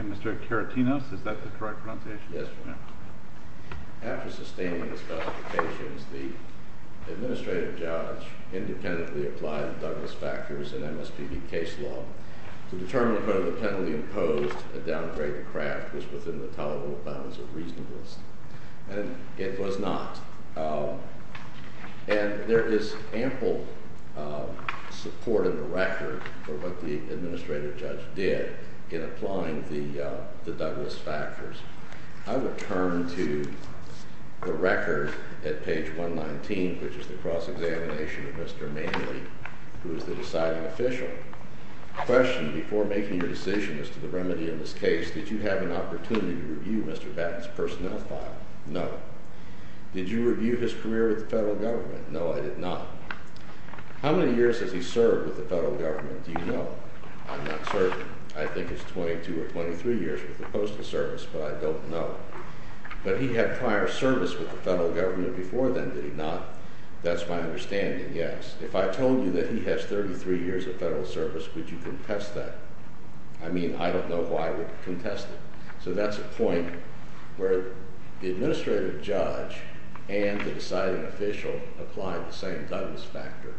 Mr. Keratinos, is that the correct pronunciation? After sustaining his qualifications, the administrative judge independently applied the Douglas factors in MSPB case law to determine whether the penalty imposed, a downgrade to Kraft, was within the tolerable bounds of reasonableness. And it was not. And there is ample support in the record for what the administrative judge did in applying the Douglas factors. I will turn to the record at page 119, which is the cross-examination of Mr. Manley, who is the deciding official. Question, before making your decision as to the remedy in this case, did you have an opportunity to review Mr. Batten's personnel file? No. Did you review his career with the federal government? No, I did not. How many years has he served with the federal government? Do you know? I'm not certain. I think it's 22 or 23 years with the Postal Service, but I don't know. But he had prior service with the federal government before then, did he not? That's my understanding, yes. If I told you that he has 33 years of federal service, would you contest that? I mean, I don't know who I would contest it. So that's a point where the administrative judge and the deciding official applied the same Douglas factor,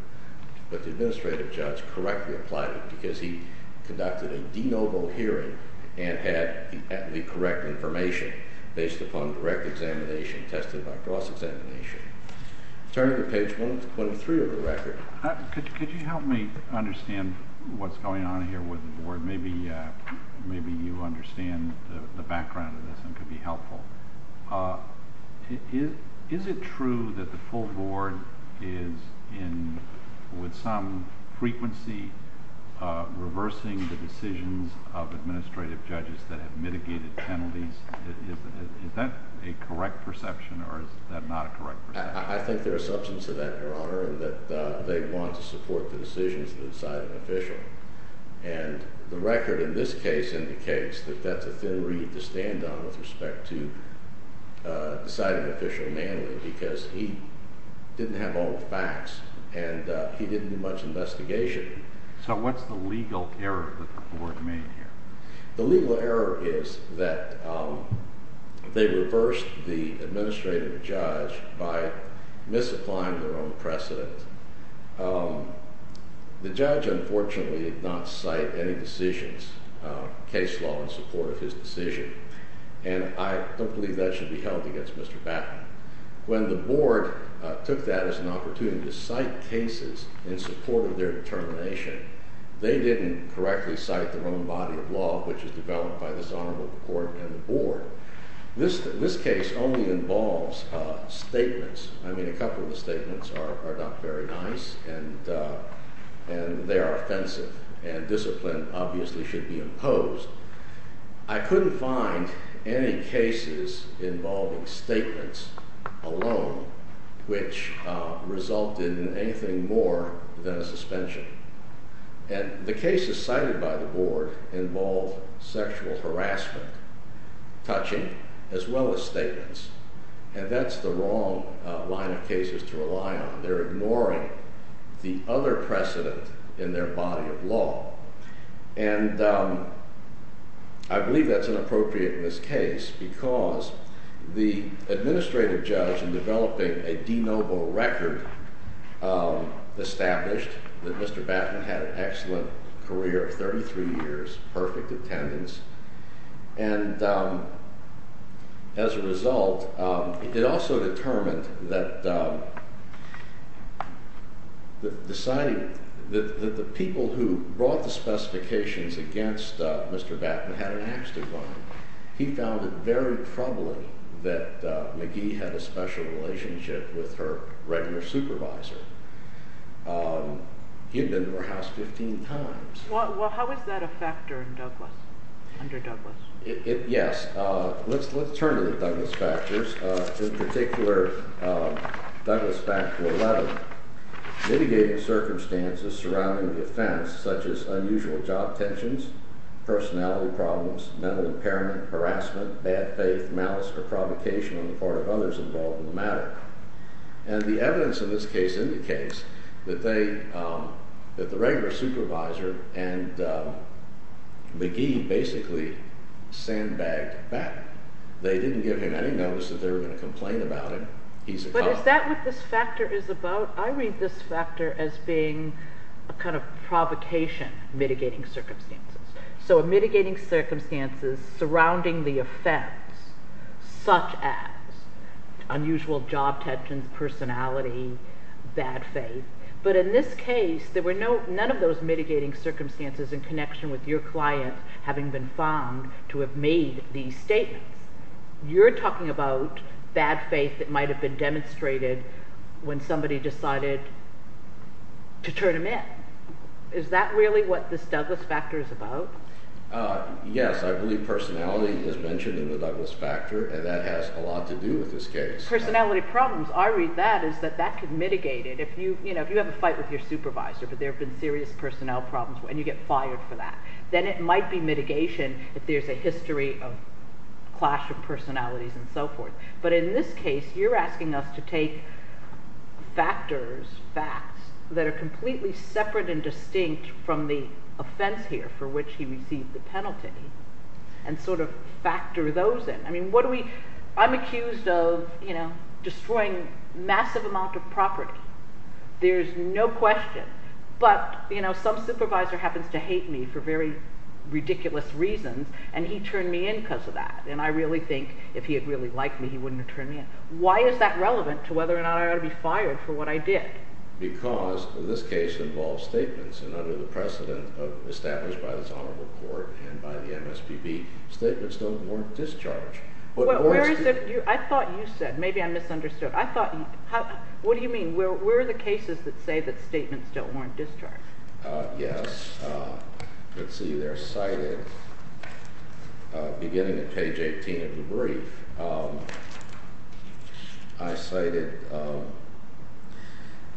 but the administrative judge correctly applied it because he conducted a de novo hearing and had the correct information based upon the correct examination tested by cross-examination. Could you help me understand what's going on here with the board? Maybe you understand the background of this and could be helpful. Is it true that the full board is, with some frequency, reversing the decisions of administrative judges that have mitigated penalties? Is that a correct perception or is that not a correct perception? I think there is substance to that, Your Honor, in that they want to support the decisions of the deciding official. And the record in this case indicates that that's a thin reed to stand on with respect to deciding official Manley because he didn't have all the facts and he didn't do much investigation. So what's the legal error that the board made here? The legal error is that they reversed the administrative judge by misapplying their own precedent. The judge, unfortunately, did not cite any decisions, case law in support of his decision, and I don't believe that should be held against Mr. Batman. When the board took that as an opportunity to cite cases in support of their determination, they didn't correctly cite their own body of law, which was developed by this honorable court and the board. This case only involves statements. I mean, a couple of the statements are not very nice and they are offensive and discipline obviously should be imposed. I couldn't find any cases involving statements alone which resulted in anything more than a suspension. And the cases cited by the board involve sexual harassment, touching, as well as statements. And that's the wrong line of cases to rely on. They're ignoring the other precedent in their body of law. And I believe that's inappropriate in this case because the administrative judge in developing a de novo record established that Mr. Batman had an excellent career of 33 years, perfect attendance. And as a result, it also determined that the people who brought the specifications against Mr. Batman had an axe to grind. He found it very troubling that McGee had a special relationship with her regular supervisor. He had been to her house 15 times. Well, how is that a factor in Douglas, under Douglas? Yes. Let's turn to the Douglas factors. In particular, Douglas fact number 11, mitigating circumstances surrounding the offense, such as unusual job tensions, personality problems, mental impairment, harassment, bad faith, malice, or provocation on the part of others involved in the matter. And the evidence in this case indicates that the regular supervisor and McGee basically sandbagged Batman. They didn't give him any notice that they were going to complain about him. But is that what this factor is about? I read this factor as being a kind of provocation mitigating circumstances. So mitigating circumstances surrounding the offense, such as unusual job tensions, personality, bad faith. But in this case, there were none of those mitigating circumstances in connection with your client having been found to have made these statements. You're talking about bad faith that might have been demonstrated when somebody decided to turn him in. Is that really what this Douglas factor is about? Yes. I believe personality is mentioned in the Douglas factor, and that has a lot to do with this case. Personality problems, I read that as that that could mitigate it. If you have a fight with your supervisor, but there have been serious personnel problems, and you get fired for that, then it might be mitigation if there's a history of clash of personalities and so forth. But in this case, you're asking us to take factors, facts, that are completely separate and distinct from the offense here for which he received the penalty and sort of factor those in. I'm accused of destroying massive amounts of property. There's no question. But some supervisor happens to hate me for very ridiculous reasons, and he turned me in because of that. And I really think if he had really liked me, he wouldn't have turned me in. Why is that relevant to whether or not I ought to be fired for what I did? Because this case involves statements, and under the precedent established by this honorable court and by the MSPB, statements don't warrant discharge. I thought you said, maybe I misunderstood. What do you mean? Where are the cases that say that statements don't warrant discharge? Yes. Let's see. They're cited beginning at page 18 of the brief. I cited –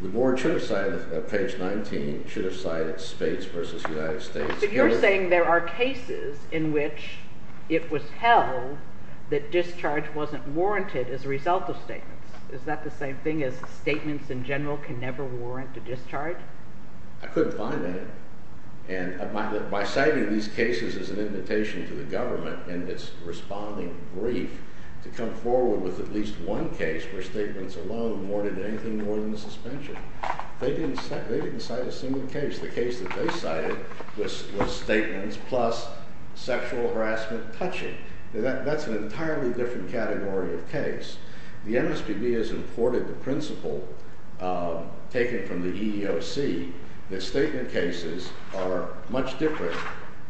the board should have cited page 19, should have cited States v. United States. But you're saying there are cases in which it was held that discharge wasn't warranted as a result of statements. Is that the same thing as statements in general can never warrant a discharge? I couldn't find any. And by citing these cases as an invitation to the government in its responding brief, to come forward with at least one case where statements alone warranted anything more than a suspension. They didn't cite a single case. The case that they cited was statements plus sexual harassment touching. That's an entirely different category of case. The MSPB has imported the principle taken from the EEOC that statement cases are much different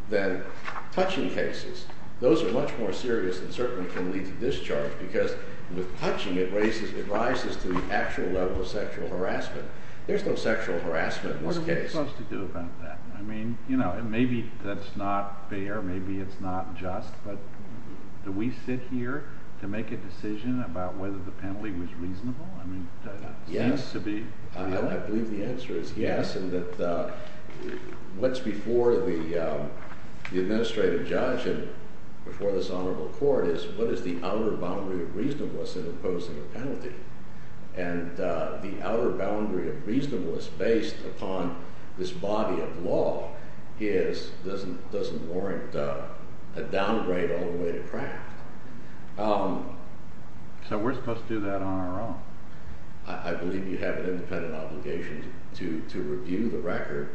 than touching cases. Those are much more serious and certainly can lead to discharge because with touching it rises to the actual level of sexual harassment. There's no sexual harassment in this case. What are we supposed to do about that? I mean, you know, maybe that's not fair. Maybe it's not just. But do we sit here to make a decision about whether the penalty was reasonable? I mean, that seems to be – Yes. I believe the answer is yes. And that what's before the administrative judge and before this honorable court is what is the outer boundary of reasonableness in imposing a penalty. And the outer boundary of reasonableness based upon this body of law is – doesn't warrant a downgrade all the way to crack. So we're supposed to do that on our own. I believe you have an independent obligation to review the record,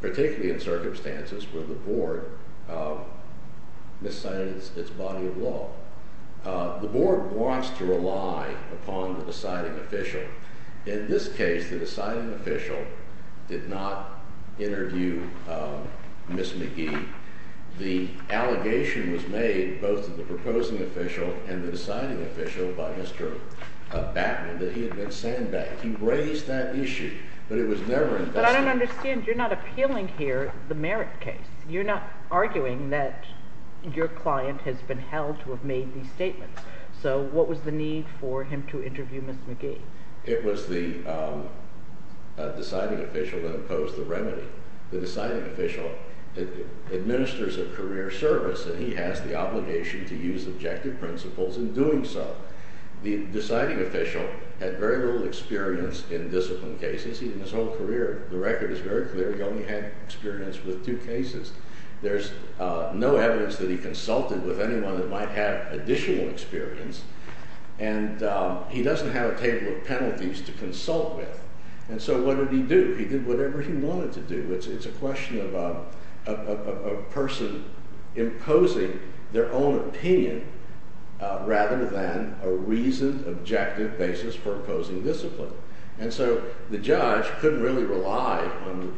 particularly in circumstances where the board miscites its body of law. The board wants to rely upon the deciding official. In this case, the deciding official did not interview Ms. McGee. The allegation was made both to the proposing official and the deciding official by Mr. Batman that he had been sandbagged. He raised that issue, but it was never investigated. But I don't understand. You're not appealing here the merit case. You're not arguing that your client has been held to have made these statements. So what was the need for him to interview Ms. McGee? It was the deciding official that imposed the remedy. The deciding official administers a career service, and he has the obligation to use objective principles in doing so. The deciding official had very little experience in discipline cases. The record is very clear. He only had experience with two cases. There's no evidence that he consulted with anyone that might have additional experience, and he doesn't have a table of penalties to consult with. And so what did he do? He did whatever he wanted to do. It's a question of a person imposing their own opinion rather than a reasoned, objective basis for imposing discipline. And so the judge couldn't really rely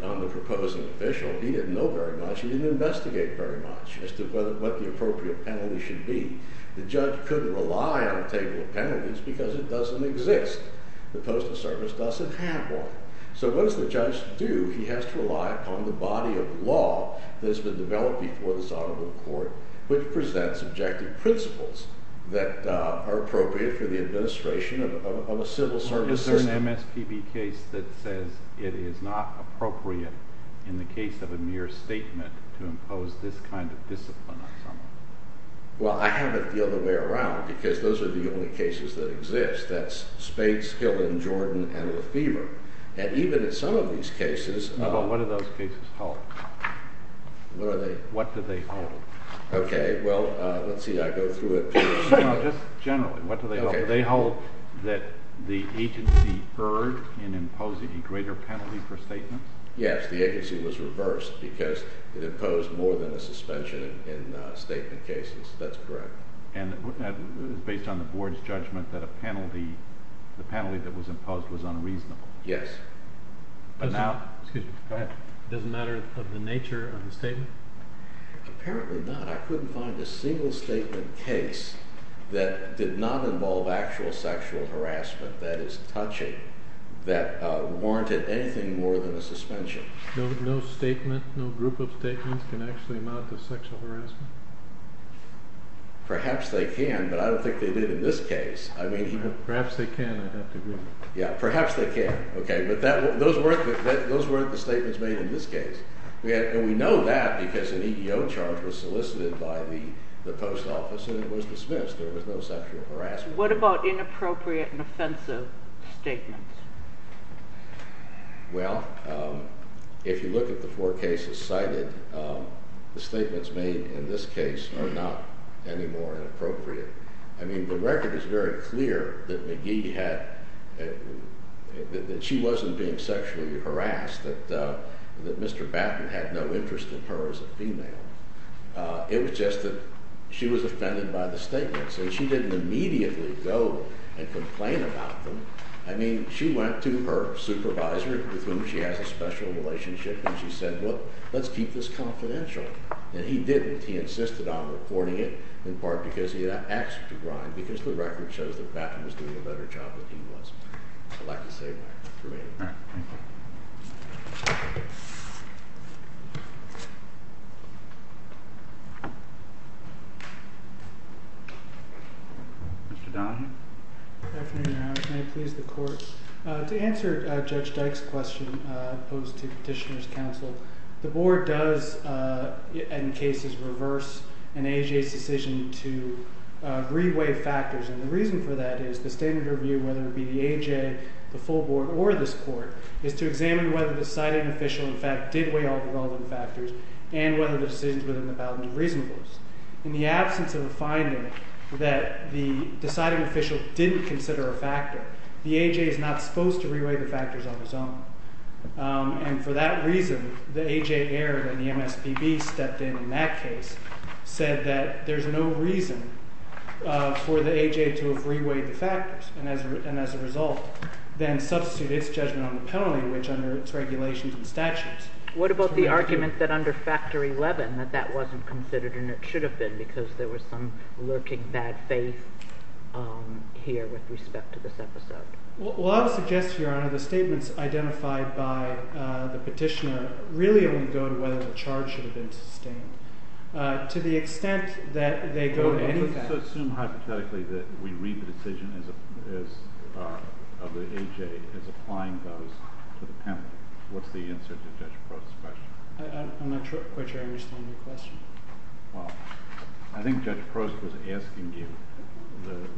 on the proposing official. He didn't know very much. He didn't investigate very much as to what the appropriate penalty should be. The judge couldn't rely on a table of penalties because it doesn't exist. The Postal Service doesn't have one. So what does the judge do? He has to rely upon the body of law that has been developed before the Sonoma Court, which presents objective principles that are appropriate for the administration of a civil service system. Is there an MSPB case that says it is not appropriate in the case of a mere statement to impose this kind of discipline on someone? Well, I have it the other way around because those are the only cases that exist. That's Spades, Hill, and Jordan, and Lefebvre. And even in some of these cases— Well, what do those cases hold? What are they? What do they hold? Okay. Well, let's see. I go through it. No, just generally. What do they hold? They hold that the agency erred in imposing a greater penalty for statements. Yes, the agency was reversed because it imposed more than a suspension in statement cases. That's correct. And based on the board's judgment that a penalty—the penalty that was imposed was unreasonable. Yes. But now— Excuse me. Go ahead. Does it matter of the nature of the statement? Apparently not. I couldn't find a single statement case that did not involve actual sexual harassment, that is, touching, that warranted anything more than a suspension. No statement, no group of statements can actually amount to sexual harassment? Perhaps they can, but I don't think they did in this case. Perhaps they can. Yeah, perhaps they can. Okay, but those weren't the statements made in this case. And we know that because an EEO charge was solicited by the post office, and it was dismissed. There was no sexual harassment. What about inappropriate and offensive statements? Well, if you look at the four cases cited, the statements made in this case are not any more inappropriate. I mean, the record is very clear that McGee had—that she wasn't being sexually harassed, that Mr. Batten had no interest in her as a female. It was just that she was offended by the statements, and she didn't immediately go and complain about them. I mean, she went to her supervisor with whom she has a special relationship, and she said, well, let's keep this confidential. And he didn't. He insisted on reporting it, in part because he had access to Brian, because the record shows that Batten was doing a better job than he was. I'd like to say that. All right. Thank you. Mr. Donohue? Can I please the Court? To answer Judge Dyke's question posed to Petitioner's Counsel, the Board does, in cases, reverse an A.J.'s decision to re-weigh factors. And the reason for that is the standard review, whether it be the A.J., the full Board, or this Court, is to examine whether the citing official, in fact, did weigh all the relevant factors and whether the decisions within the ballot were reasonable. In the absence of a finding that the deciding official didn't consider a factor, the A.J. is not supposed to re-weigh the factors on his own. And for that reason, the A.J. error, and the MSPB stepped in in that case, said that there's no reason for the A.J. to have re-weighed the factors, and as a result, then substitute its judgment on the penalty, which under its regulations and statutes. What about the argument that under Factor 11, that that wasn't considered, and it should have been, because there was some lurking bad faith here with respect to this episode? Well, I would suggest, Your Honor, the statements identified by the Petitioner really only go to whether the charge should have been sustained. To the extent that they go to any fact— I also assume, hypothetically, that we read the decision of the A.J. as applying those to the penalty. What's the answer to Judge Prost's question? I'm not quite sure I understand your question. Well, I think Judge Prost was asking you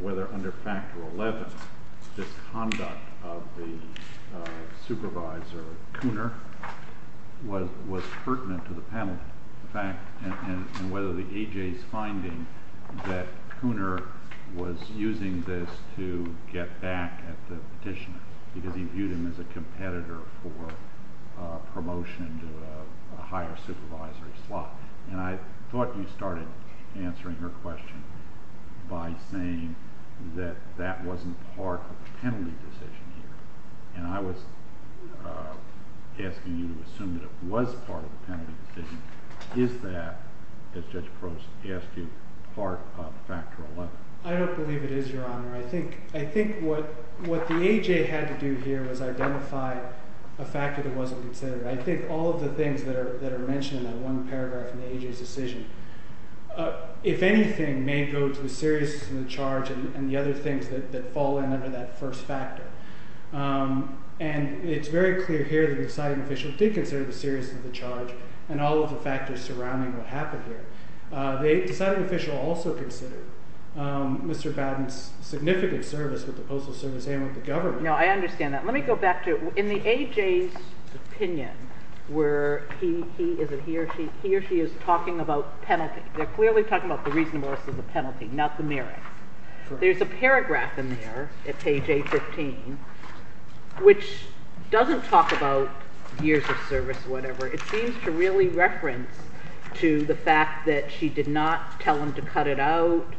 whether under Factor 11, this conduct of the supervisor, Cooner, was pertinent to the penalty. In fact, and whether the A.J.'s finding that Cooner was using this to get back at the Petitioner because he viewed him as a competitor for promotion to a higher supervisory slot. And I thought you started answering her question by saying that that wasn't part of the penalty decision here. And I was asking you to assume that it was part of the penalty decision. Is that, as Judge Prost asked you, part of Factor 11? I don't believe it is, Your Honor. I think what the A.J. had to do here was identify a factor that wasn't considered. I think all of the things that are mentioned in that one paragraph in the A.J.'s decision, if anything, may go to the seriousness of the charge and the other things that fall under that first factor. And it's very clear here that the deciding official did consider the seriousness of the charge and all of the factors surrounding what happened here. The deciding official also considered Mr. Bowden's significant service with the Postal Service and with the government. No, I understand that. Let me go back to – in the A.J.'s opinion where he – is it he or she? He or she is talking about penalty. They're clearly talking about the reasonableness of the penalty, not the merit. There's a paragraph in there at page 815 which doesn't talk about years of service or whatever. It seems to really reference to the fact that she did not tell him to cut it out,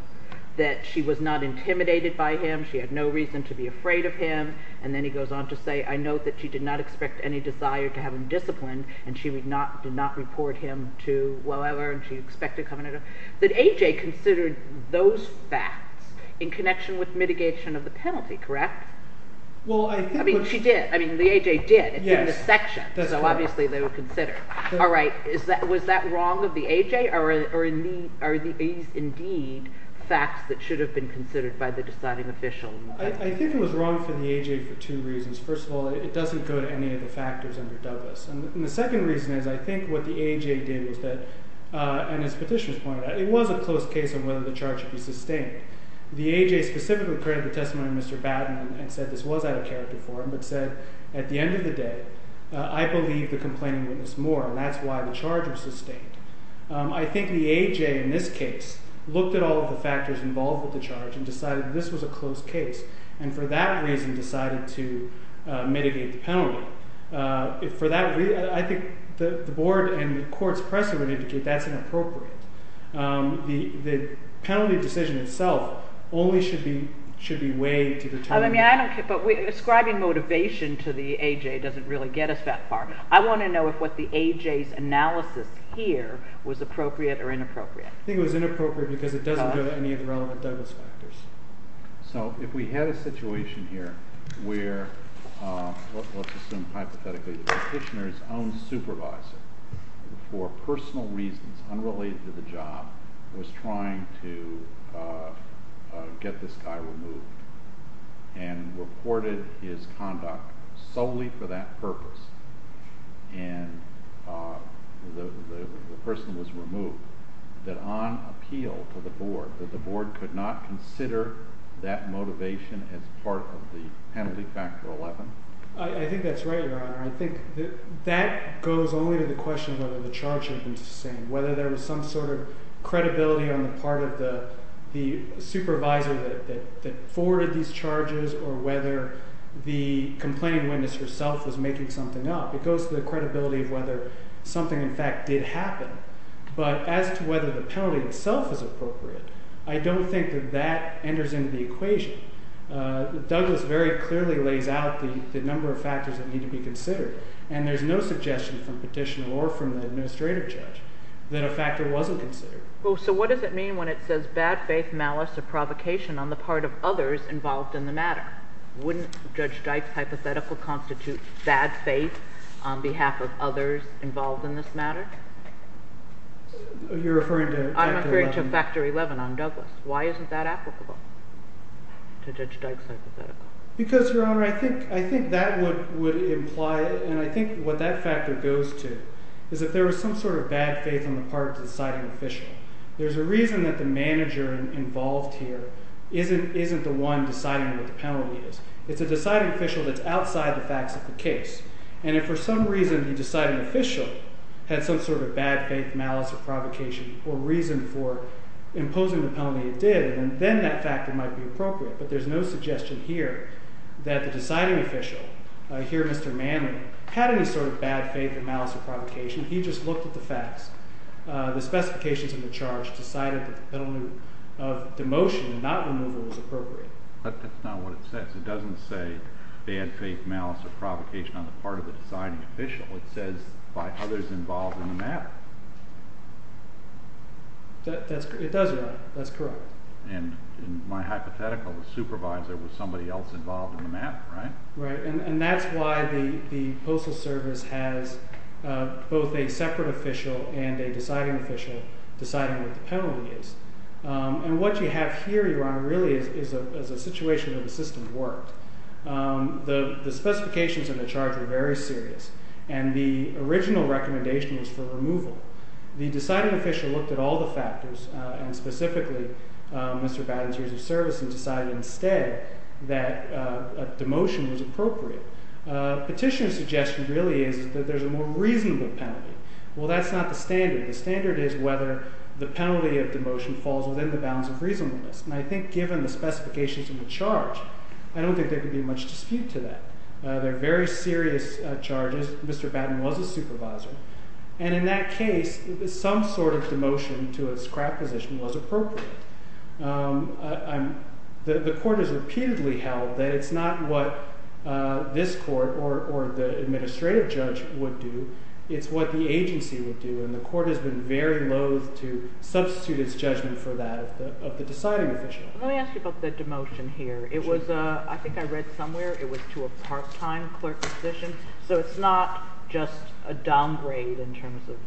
that she was not intimidated by him. She had no reason to be afraid of him. And then he goes on to say, I note that she did not expect any desire to have him disciplined, and she did not report him to whoever, and she expected – that A.J. considered those facts in connection with mitigation of the penalty, correct? Well, I think – I mean she did. I mean the A.J. did. It's in the section, so obviously they would consider. All right. Was that wrong of the A.J. or are these indeed facts that should have been considered by the deciding official? I think it was wrong for the A.J. for two reasons. First of all, it doesn't go to any of the factors under Dovis. And the second reason is I think what the A.J. did was that – and as Petitioner's pointed out, it was a close case of whether the charge should be sustained. The A.J. specifically created the testimony of Mr. Batten and said this was out of character for him, but said at the end of the day, I believe the complaining witness more, and that's why the charge was sustained. I think the A.J. in this case looked at all of the factors involved with the charge and decided this was a close case, and for that reason decided to mitigate the penalty. For that reason, I think the board and the court's pressure would indicate that's inappropriate. The penalty decision itself only should be weighed to determine. But ascribing motivation to the A.J. doesn't really get us that far. I want to know if what the A.J.'s analysis here was appropriate or inappropriate. I think it was inappropriate because it doesn't go to any of the relevant Douglas factors. So if we had a situation here where, let's assume hypothetically, Petitioner's own supervisor, for personal reasons unrelated to the job, was trying to get this guy removed and reported his conduct solely for that purpose, and the person was removed, that on appeal to the board, that the board could not consider that motivation as part of the penalty factor 11? I think that's right, Your Honor. I think that goes only to the question of whether the charge had been sustained, whether there was some sort of credibility on the part of the supervisor that forwarded these charges, or whether the complaining witness herself was making something up. It goes to the credibility of whether something, in fact, did happen. But as to whether the penalty itself is appropriate, I don't think that that enters into the equation. Douglas very clearly lays out the number of factors that need to be considered, and there's no suggestion from Petitioner or from the administrative judge that a factor wasn't considered. Oh, so what does it mean when it says bad faith, malice, or provocation on the part of others involved in the matter? Wouldn't Judge Dyke's hypothetical constitute bad faith on behalf of others involved in this matter? You're referring to factor 11? I'm referring to factor 11 on Douglas. Why isn't that applicable to Judge Dyke's hypothetical? Because, Your Honor, I think that would imply, and I think what that factor goes to, is if there was some sort of bad faith on the part of the deciding official. There's a reason that the manager involved here isn't the one deciding what the penalty is. It's a deciding official that's outside the facts of the case. And if for some reason the deciding official had some sort of bad faith, malice, or provocation, or reason for imposing the penalty it did, then that factor might be appropriate. But there's no suggestion here that the deciding official, here Mr. Manley, had any sort of bad faith, malice, or provocation. He just looked at the facts. The specifications of the charge decided that the penalty of demotion and not removal was appropriate. But that's not what it says. It doesn't say bad faith, malice, or provocation on the part of the deciding official. It says by others involved in the matter. It does, Your Honor. That's correct. And in my hypothetical, the supervisor was somebody else involved in the matter, right? Right. And that's why the Postal Service has both a separate official and a deciding official deciding what the penalty is. And what you have here, Your Honor, really is a situation where the system worked. The specifications of the charge were very serious. The deciding official looked at all the factors, and specifically Mr. Batten's years of service, and decided instead that demotion was appropriate. Petitioner's suggestion really is that there's a more reasonable penalty. Well, that's not the standard. The standard is whether the penalty of demotion falls within the bounds of reasonableness. And I think given the specifications of the charge, I don't think there could be much dispute to that. They're very serious charges. Mr. Batten was a supervisor. And in that case, some sort of demotion to a scrap position was appropriate. The court has repeatedly held that it's not what this court or the administrative judge would do. It's what the agency would do, and the court has been very loathe to substitute its judgment for that of the deciding official. Let me ask you about the demotion here. I think I read somewhere it was to a part-time clerk position. So it's not just a downgrade in terms of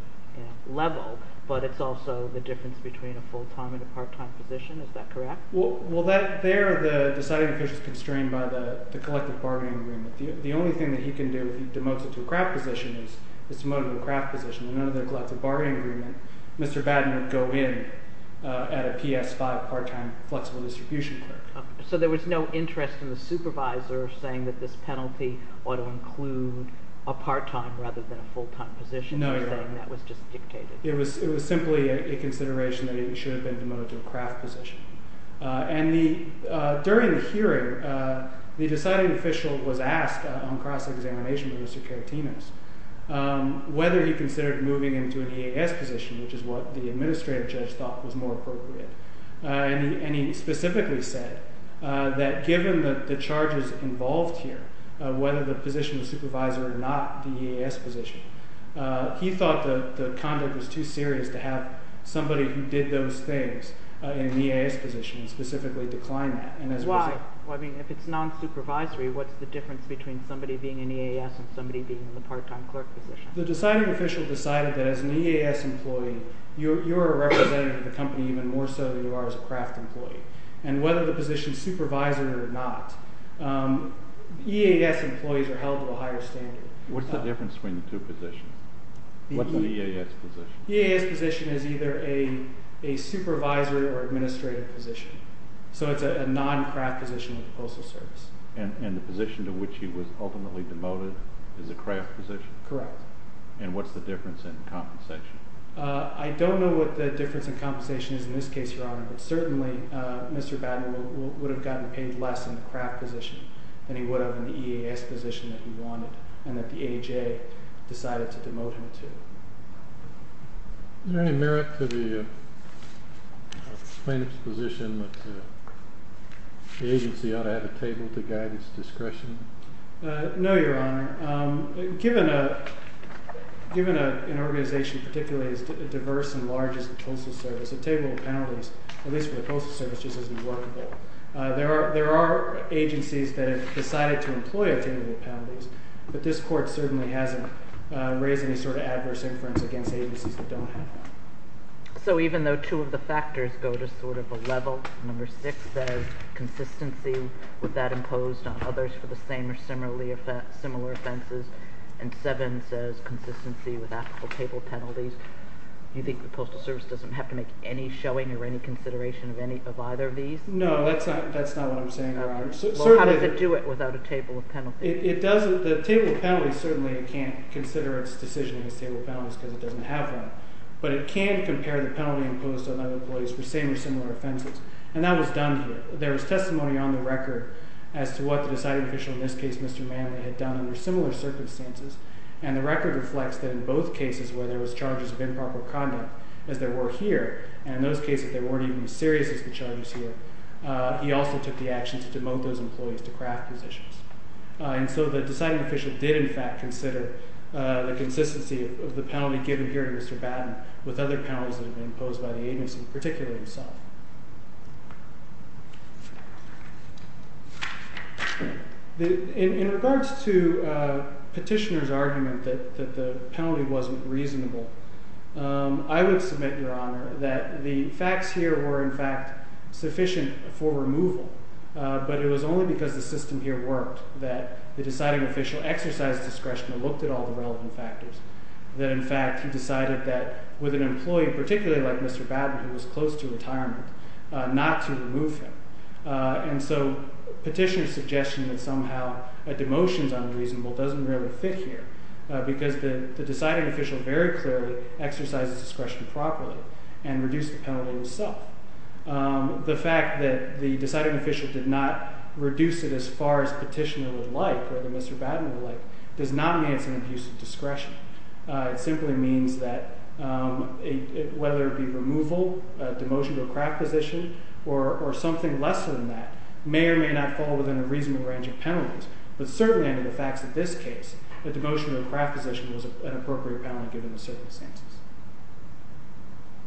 level, but it's also the difference between a full-time and a part-time position. Is that correct? Well, there the deciding official is constrained by the collective bargaining agreement. The only thing that he can do if he demotes it to a craft position is to demote it to a craft position. And under the collective bargaining agreement, Mr. Batten would go in at a PS-5 part-time flexible distribution clerk. So there was no interest in the supervisor saying that this penalty ought to include a part-time rather than a full-time position? No. He was saying that was just dictated. It was simply a consideration that it should have been demoted to a craft position. And during the hearing, the deciding official was asked on cross-examination with Mr. Karatinas whether he considered moving into an EAS position, which is what the administrative judge thought was more appropriate. And he specifically said that given the charges involved here, whether the position of supervisor or not the EAS position, he thought the conduct was too serious to have somebody who did those things in the EAS position specifically decline that. Why? I mean, if it's non-supervisory, what's the difference between somebody being in EAS and somebody being in the part-time clerk position? The deciding official decided that as an EAS employee, you're a representative of the company even more so than you are as a craft employee. And whether the position is supervisor or not, EAS employees are held to a higher standard. What's the difference between the two positions? What's an EAS position? The EAS position is either a supervisor or administrative position. So it's a non-craft position with the Postal Service. And the position to which he was ultimately demoted is a craft position? Correct. And what's the difference in compensation? I don't know what the difference in compensation is in this case, Your Honor, but certainly Mr. Batten would have gotten paid less in the craft position than he would have in the EAS position that he wanted and that the AJ decided to demote him to. Is there any merit to the plaintiff's position that the agency ought to have a table to guide its discretion? No, Your Honor. Given an organization particularly as diverse and large as the Postal Service, a table of penalties, at least for the Postal Service, just isn't workable. There are agencies that have decided to employ a table of penalties, but this Court certainly hasn't raised any sort of adverse inference against agencies that don't have one. So even though two of the factors go to sort of a level, number six says consistency with that imposed on others for the same or similar offenses, and seven says consistency with applicable table penalties, do you think the Postal Service doesn't have to make any showing or any consideration of either of these? No, that's not what I'm saying, Your Honor. Well, how does it do it without a table of penalties? The table of penalties certainly can't consider its decision as a table of penalties because it doesn't have one, but it can compare the penalty imposed on other employees for the same or similar offenses, and that was done here. There was testimony on the record as to what the deciding official, in this case Mr. Manley, had done under similar circumstances, and the record reflects that in both cases where there was charges of improper conduct, as there were here, and in those cases they weren't even as serious as the charges here, he also took the action to demote those employees to craft positions. And so the deciding official did in fact consider the consistency of the penalty given here to Mr. Batten with other penalties that had been imposed by the agency, particularly himself. In regards to Petitioner's argument that the penalty wasn't reasonable, I would submit, Your Honor, that the facts here were in fact sufficient for removal, but it was only because the system here worked that the deciding official exercised discretion and looked at all the relevant factors, that in fact he decided that with an employee, particularly like Mr. Batten, who was close to retirement, not to remove him. And so Petitioner's suggestion that somehow a demotion is unreasonable doesn't really fit here because the deciding official very clearly exercised discretion properly and reduced the penalty himself. The fact that the deciding official did not reduce it as far as Petitioner would like, or that Mr. Batten would like, does not mean it's an abuse of discretion. It simply means that whether it be removal, a demotion to a craft position, or something less than that, may or may not fall within a reasonable range of penalties. But certainly under the facts of this case, a demotion to a craft position was an appropriate penalty given the circumstances.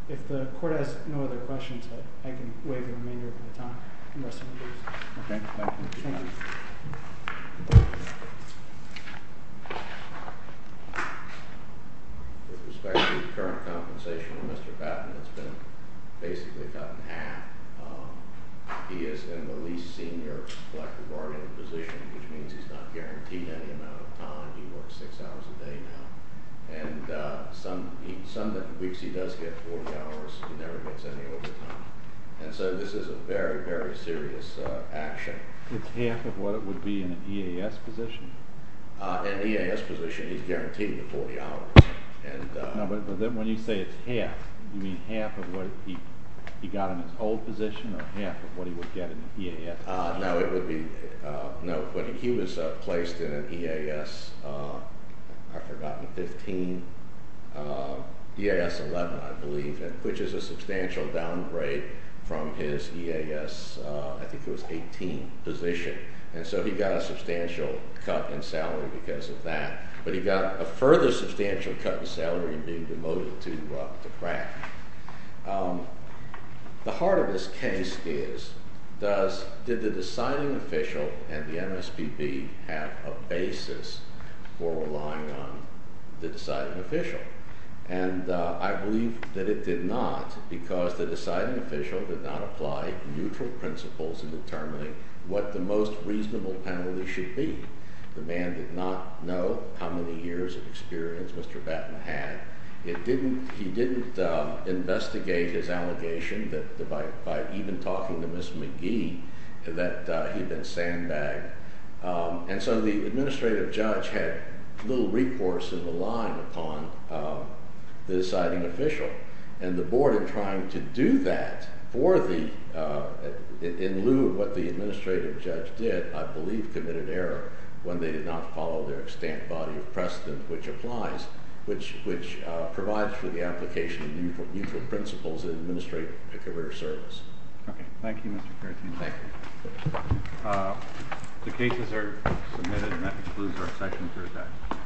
If the Court has no other questions, I can waive the remainder of my time. With respect to the current compensation on Mr. Batten, it's been basically cut in half. He is in the least senior collective bargaining position, which means he's not guaranteed any amount of time. He works six hours a day now, and some weeks he does get 40 hours. He never gets any overtime. And so this is a very, very serious action. It's half of what it would be in an EAS position. In an EAS position, he's guaranteed the 40 hours. No, but when you say it's half, you mean half of what he got in his old position or half of what he would get in an EAS position? No, but he was placed in an EAS, I've forgotten, 15, EAS 11, I believe, which is a substantial downgrade from his EAS, I think it was 18 position. And so he got a substantial cut in salary because of that. But he got a further substantial cut in salary in being demoted to craft. The heart of this case is, did the deciding official and the MSPB have a basis for relying on the deciding official? And I believe that it did not because the deciding official did not apply neutral principles in determining what the most reasonable penalty should be. The man did not know how many years of experience Mr. Batten had. He didn't investigate his allegation by even talking to Ms. McGee that he'd been sandbagged. And so the administrative judge had little recourse in the line upon the deciding official. And the board, in trying to do that for the, in lieu of what the administrative judge did, I believe committed error when they did not follow their extant body of precedent, which applies, which provides for the application of neutral principles in administrating a career service. Okay. Thank you, Mr. Carathene. Thank you. The cases are submitted and that concludes our session for today.